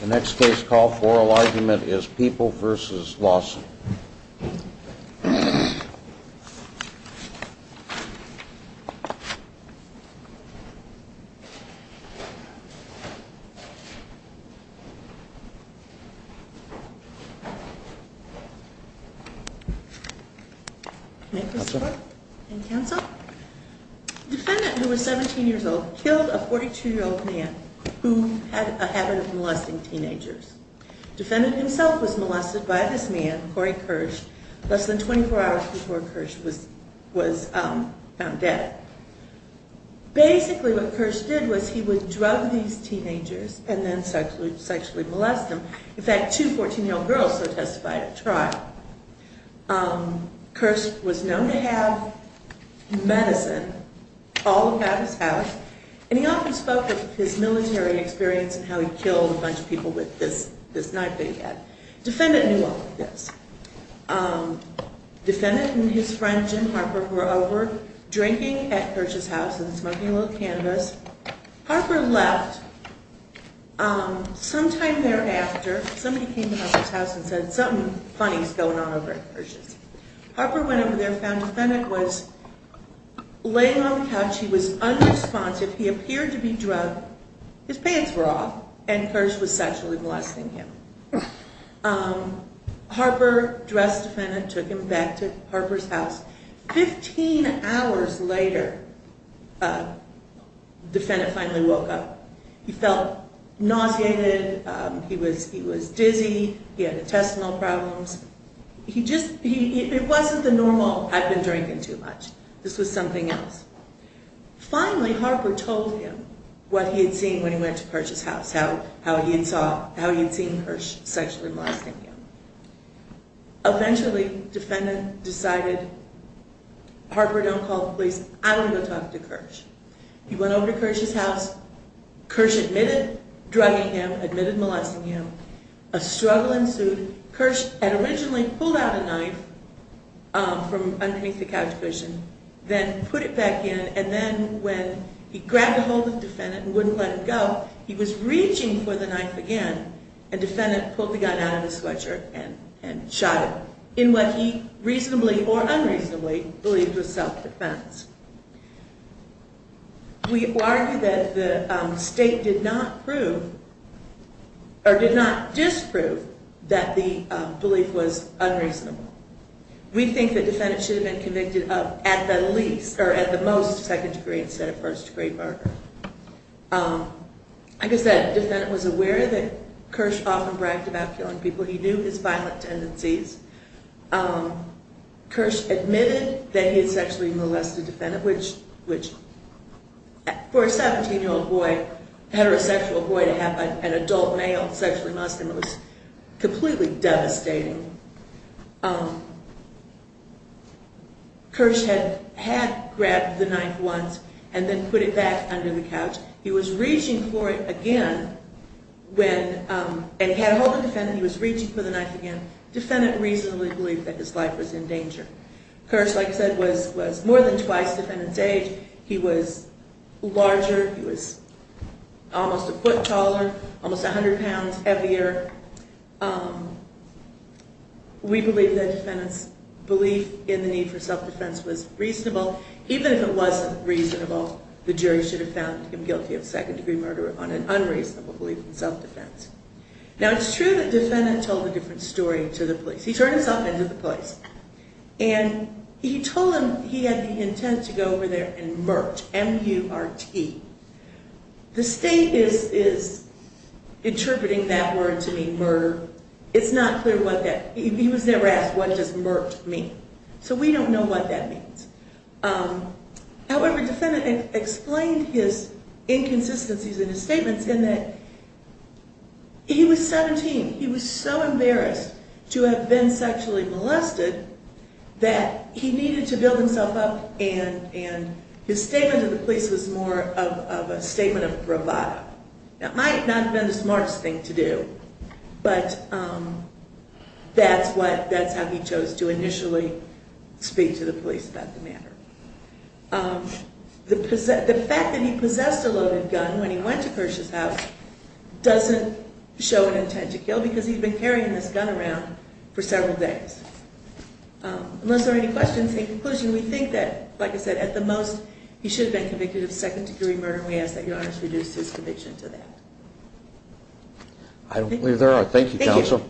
The next case called for oral argument is People v. Lawson. The defendant, who was 17 years old, killed a 42-year-old man who had a habit of molesting teenagers. Defendant himself was molested by this man, Corey Kirsch, less than 24 hours before Kirsch was found dead. Basically, what Kirsch did was he would drug these teenagers and then sexually molest them. In fact, two 14-year-old girls were testified at trial. Kirsch was known to have medicine all about his house, and he often spoke of his military experience and how he killed a bunch of people with this knife that he had. Defendant knew all of this. Defendant and his friend, Jim Harper, were over drinking at Kirsch's house and smoking a little cannabis. Harper left. Sometime thereafter, somebody came to Harper's house and said, something funny is going on over at Kirsch's. Harper went over there and found the defendant was laying on the couch. He was unresponsive. He appeared to be drunk. His pants were off, and Kirsch was sexually molesting him. Harper dressed the defendant, took him back to Harper's house. Fifteen hours later, the defendant finally woke up. He felt nauseated. He was dizzy. He had intestinal problems. It wasn't the normal, I've been drinking too much. This was something else. Finally, Harper told him what he had seen when he went to Kirsch's house, how he had seen Kirsch sexually molesting him. Eventually, the defendant decided, Harper, don't call the police. I want to go talk to Kirsch. He went over to Kirsch's house. Kirsch admitted drugging him, admitted molesting him. A struggle ensued. Kirsch had originally pulled out a knife from underneath the couch cushion, then put it back in, and then when he grabbed a hold of the defendant and wouldn't let him go, he was reaching for the knife again, and the defendant pulled the gun out of his sweatshirt and shot him, in what he reasonably or unreasonably believed was self-defense. We argue that the state did not prove, or did not disprove, that the belief was unreasonable. We think the defendant should have been convicted of, at the least, or at the most, second degree instead of first degree murder. Like I said, the defendant was aware that Kirsch often bragged about killing people. He knew his violent tendencies. Kirsch admitted that he had sexually molested the defendant, which for a 17-year-old boy, heterosexual boy, to have an adult male sexually molest him was completely devastating. Kirsch had grabbed the knife once and then put it back under the couch. He was reaching for it again, and he had a hold of the defendant, he was reaching for the knife again. The defendant reasonably believed that his life was in danger. Kirsch, like I said, was more than twice the defendant's age. He was larger, he was almost a foot taller, almost 100 pounds heavier. We believe that the defendant's belief in the need for self-defense was reasonable. Even if it wasn't reasonable, the jury should have found him guilty of second degree murder on an unreasonable belief in self-defense. Now, it's true that the defendant told a different story to the police. He turned himself in to the police, and he told them he had the intent to go over there and murt, M-U-R-T. The state is interpreting that word to mean murder. It's not clear what that, he was never asked what does murt mean. So we don't know what that means. However, the defendant explained his inconsistencies in his statements in that he was 17. He was so embarrassed to have been sexually molested that he needed to build himself up and his statement to the police was more of a statement of bravado. That might not have been the smartest thing to do, but that's how he chose to initially speak to the police about the matter. The fact that he possessed a loaded gun when he did that, that's a fact that's been around for several days. Unless there are any questions in conclusion, we think that, like I said, at the most, he should have been convicted of second degree murder, and we ask that Your Honor should reduce his conviction to that. I don't believe there are. Thank you, counsel.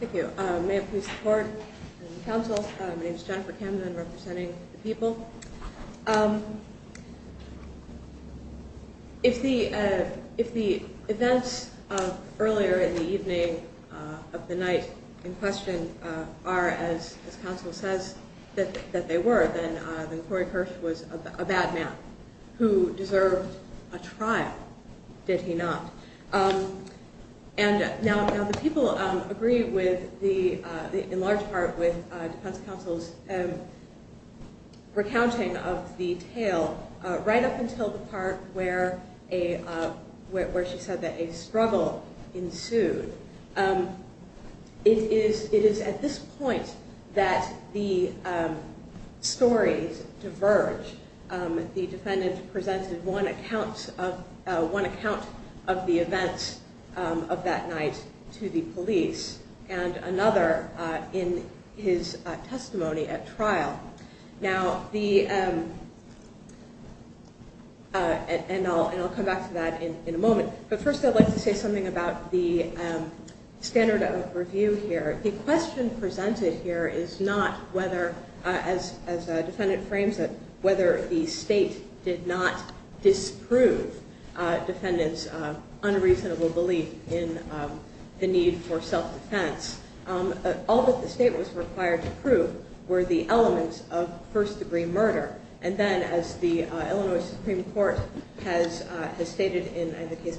Thank you. May I please support the counsel. My name is Jennifer Camden representing the people. If the events earlier in the evening of the night in question are, as counsel says, that they were, then Corey Kirsch was a bad man who deserved a trial, did he not? And now the people agree in large part with defense counsel's recounting of the tale right up until the part where she said that a struggle ensued. It is at this point that the stories diverge. The defendant presented one account of the events of that night to the police, and another in his testimony at trial. Now the, and I'll come back to that in a moment, but first I'd like to say something about the standard of review here. The question presented here is not whether, as the defendant frames it, whether the state did not disprove defendant's unreasonable belief in the need for self-defense. All that the state was required to prove were the elements of first degree murder, and then as the Illinois Supreme Court has stated in the case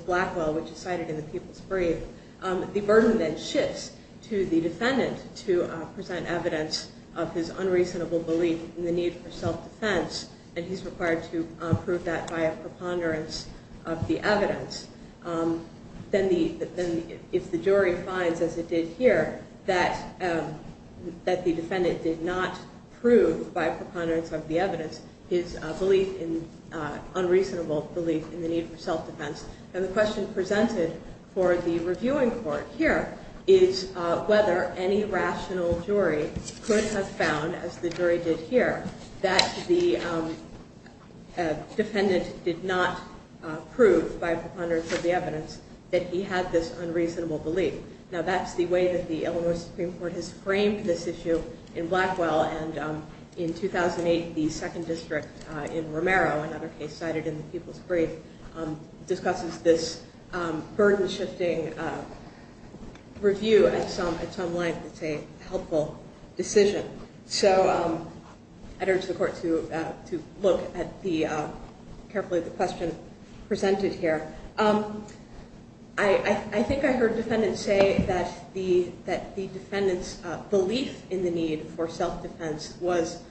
brief, the burden then shifts to the defendant to present evidence of his unreasonable belief in the need for self-defense, and he's required to prove that by a preponderance of the evidence. Then if the jury finds, as it did here, that the defendant did not prove by preponderance of the evidence his belief in, unreasonable belief in the need for self-defense, then the question presented for the reviewing court here is whether any rational jury could have found, as the jury did here, that the defendant did not prove by preponderance of the evidence that he had this unreasonable belief. Now that's the way that the Illinois Supreme Court has framed this issue in Blackwell, and in 2008 the second district in Romero, another case cited in the Supreme Court's brief, discusses this burden-shifting review at some length as a helpful decision. So I'd urge the court to look at carefully at the question presented here. I think I heard defendants say that the defendant's belief in the need for self-defense was presented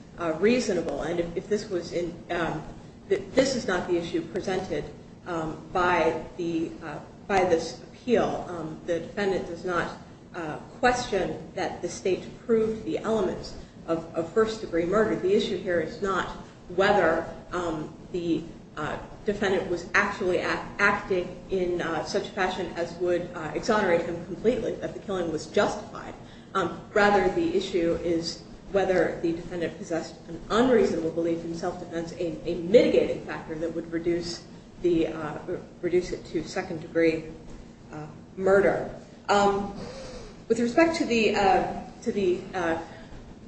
by this appeal. The defendant does not question that the state proved the elements of first-degree murder. The issue here is not whether the defendant was actually acting in such fashion as would exonerate him completely, that the killing was justified. Rather, the defendant would reduce it to second-degree murder. With respect to the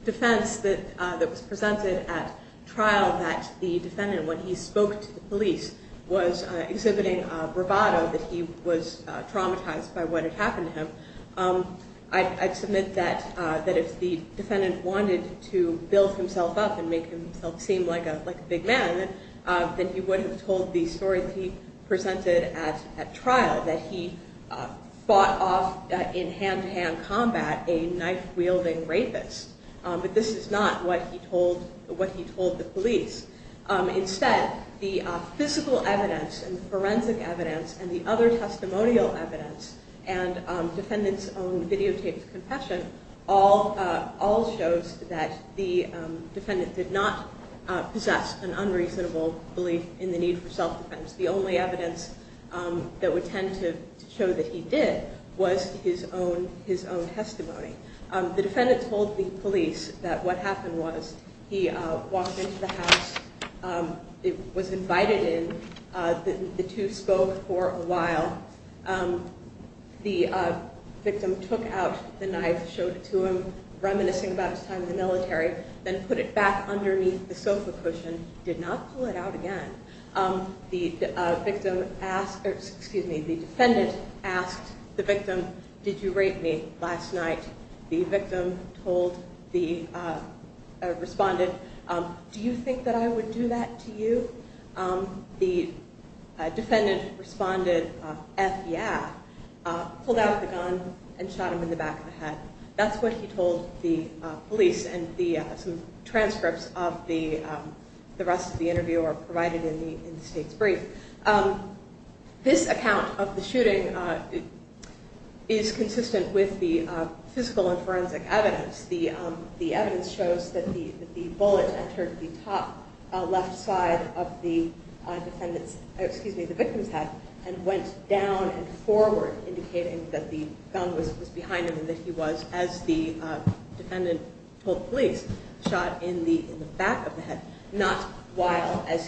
defense that was presented at trial that the defendant, when he spoke to the police, was exhibiting bravado that he was traumatized by what had happened to him, I'd submit that if the defendant wanted to build himself up and make himself seem like a big man, then he would have told the story that he presented at trial, that he fought off in hand-to-hand combat a knife-wielding rapist. But this is not what he told the police. Instead, the physical evidence and forensic evidence and the other defendant did not possess an unreasonable belief in the need for self-defense. The only evidence that would tend to show that he did was his own testimony. The defendant told the police that what happened was he walked into the house, was invited in. The two spoke for a while. The victim took out the knife, showed it to him, reminiscing about his time in the military, then put it back underneath the sofa cushion, did not pull it out again. The defendant asked the victim, did you rape me last night? The victim responded, do you think that I would do that to you? The defendant responded, f-yeah, pulled out the gun and shot him in the back of the head. That's what he told the police and some transcripts of the rest of the interview are provided in the state's brief. This account of the shooting is consistent with the physical and forensic evidence. The evidence shows that the bullet entered the top left side of the victim's head and went down and forward indicating that the gun was behind him and that he was, as the defendant told police, shot in the back of the head, not while as he was standing.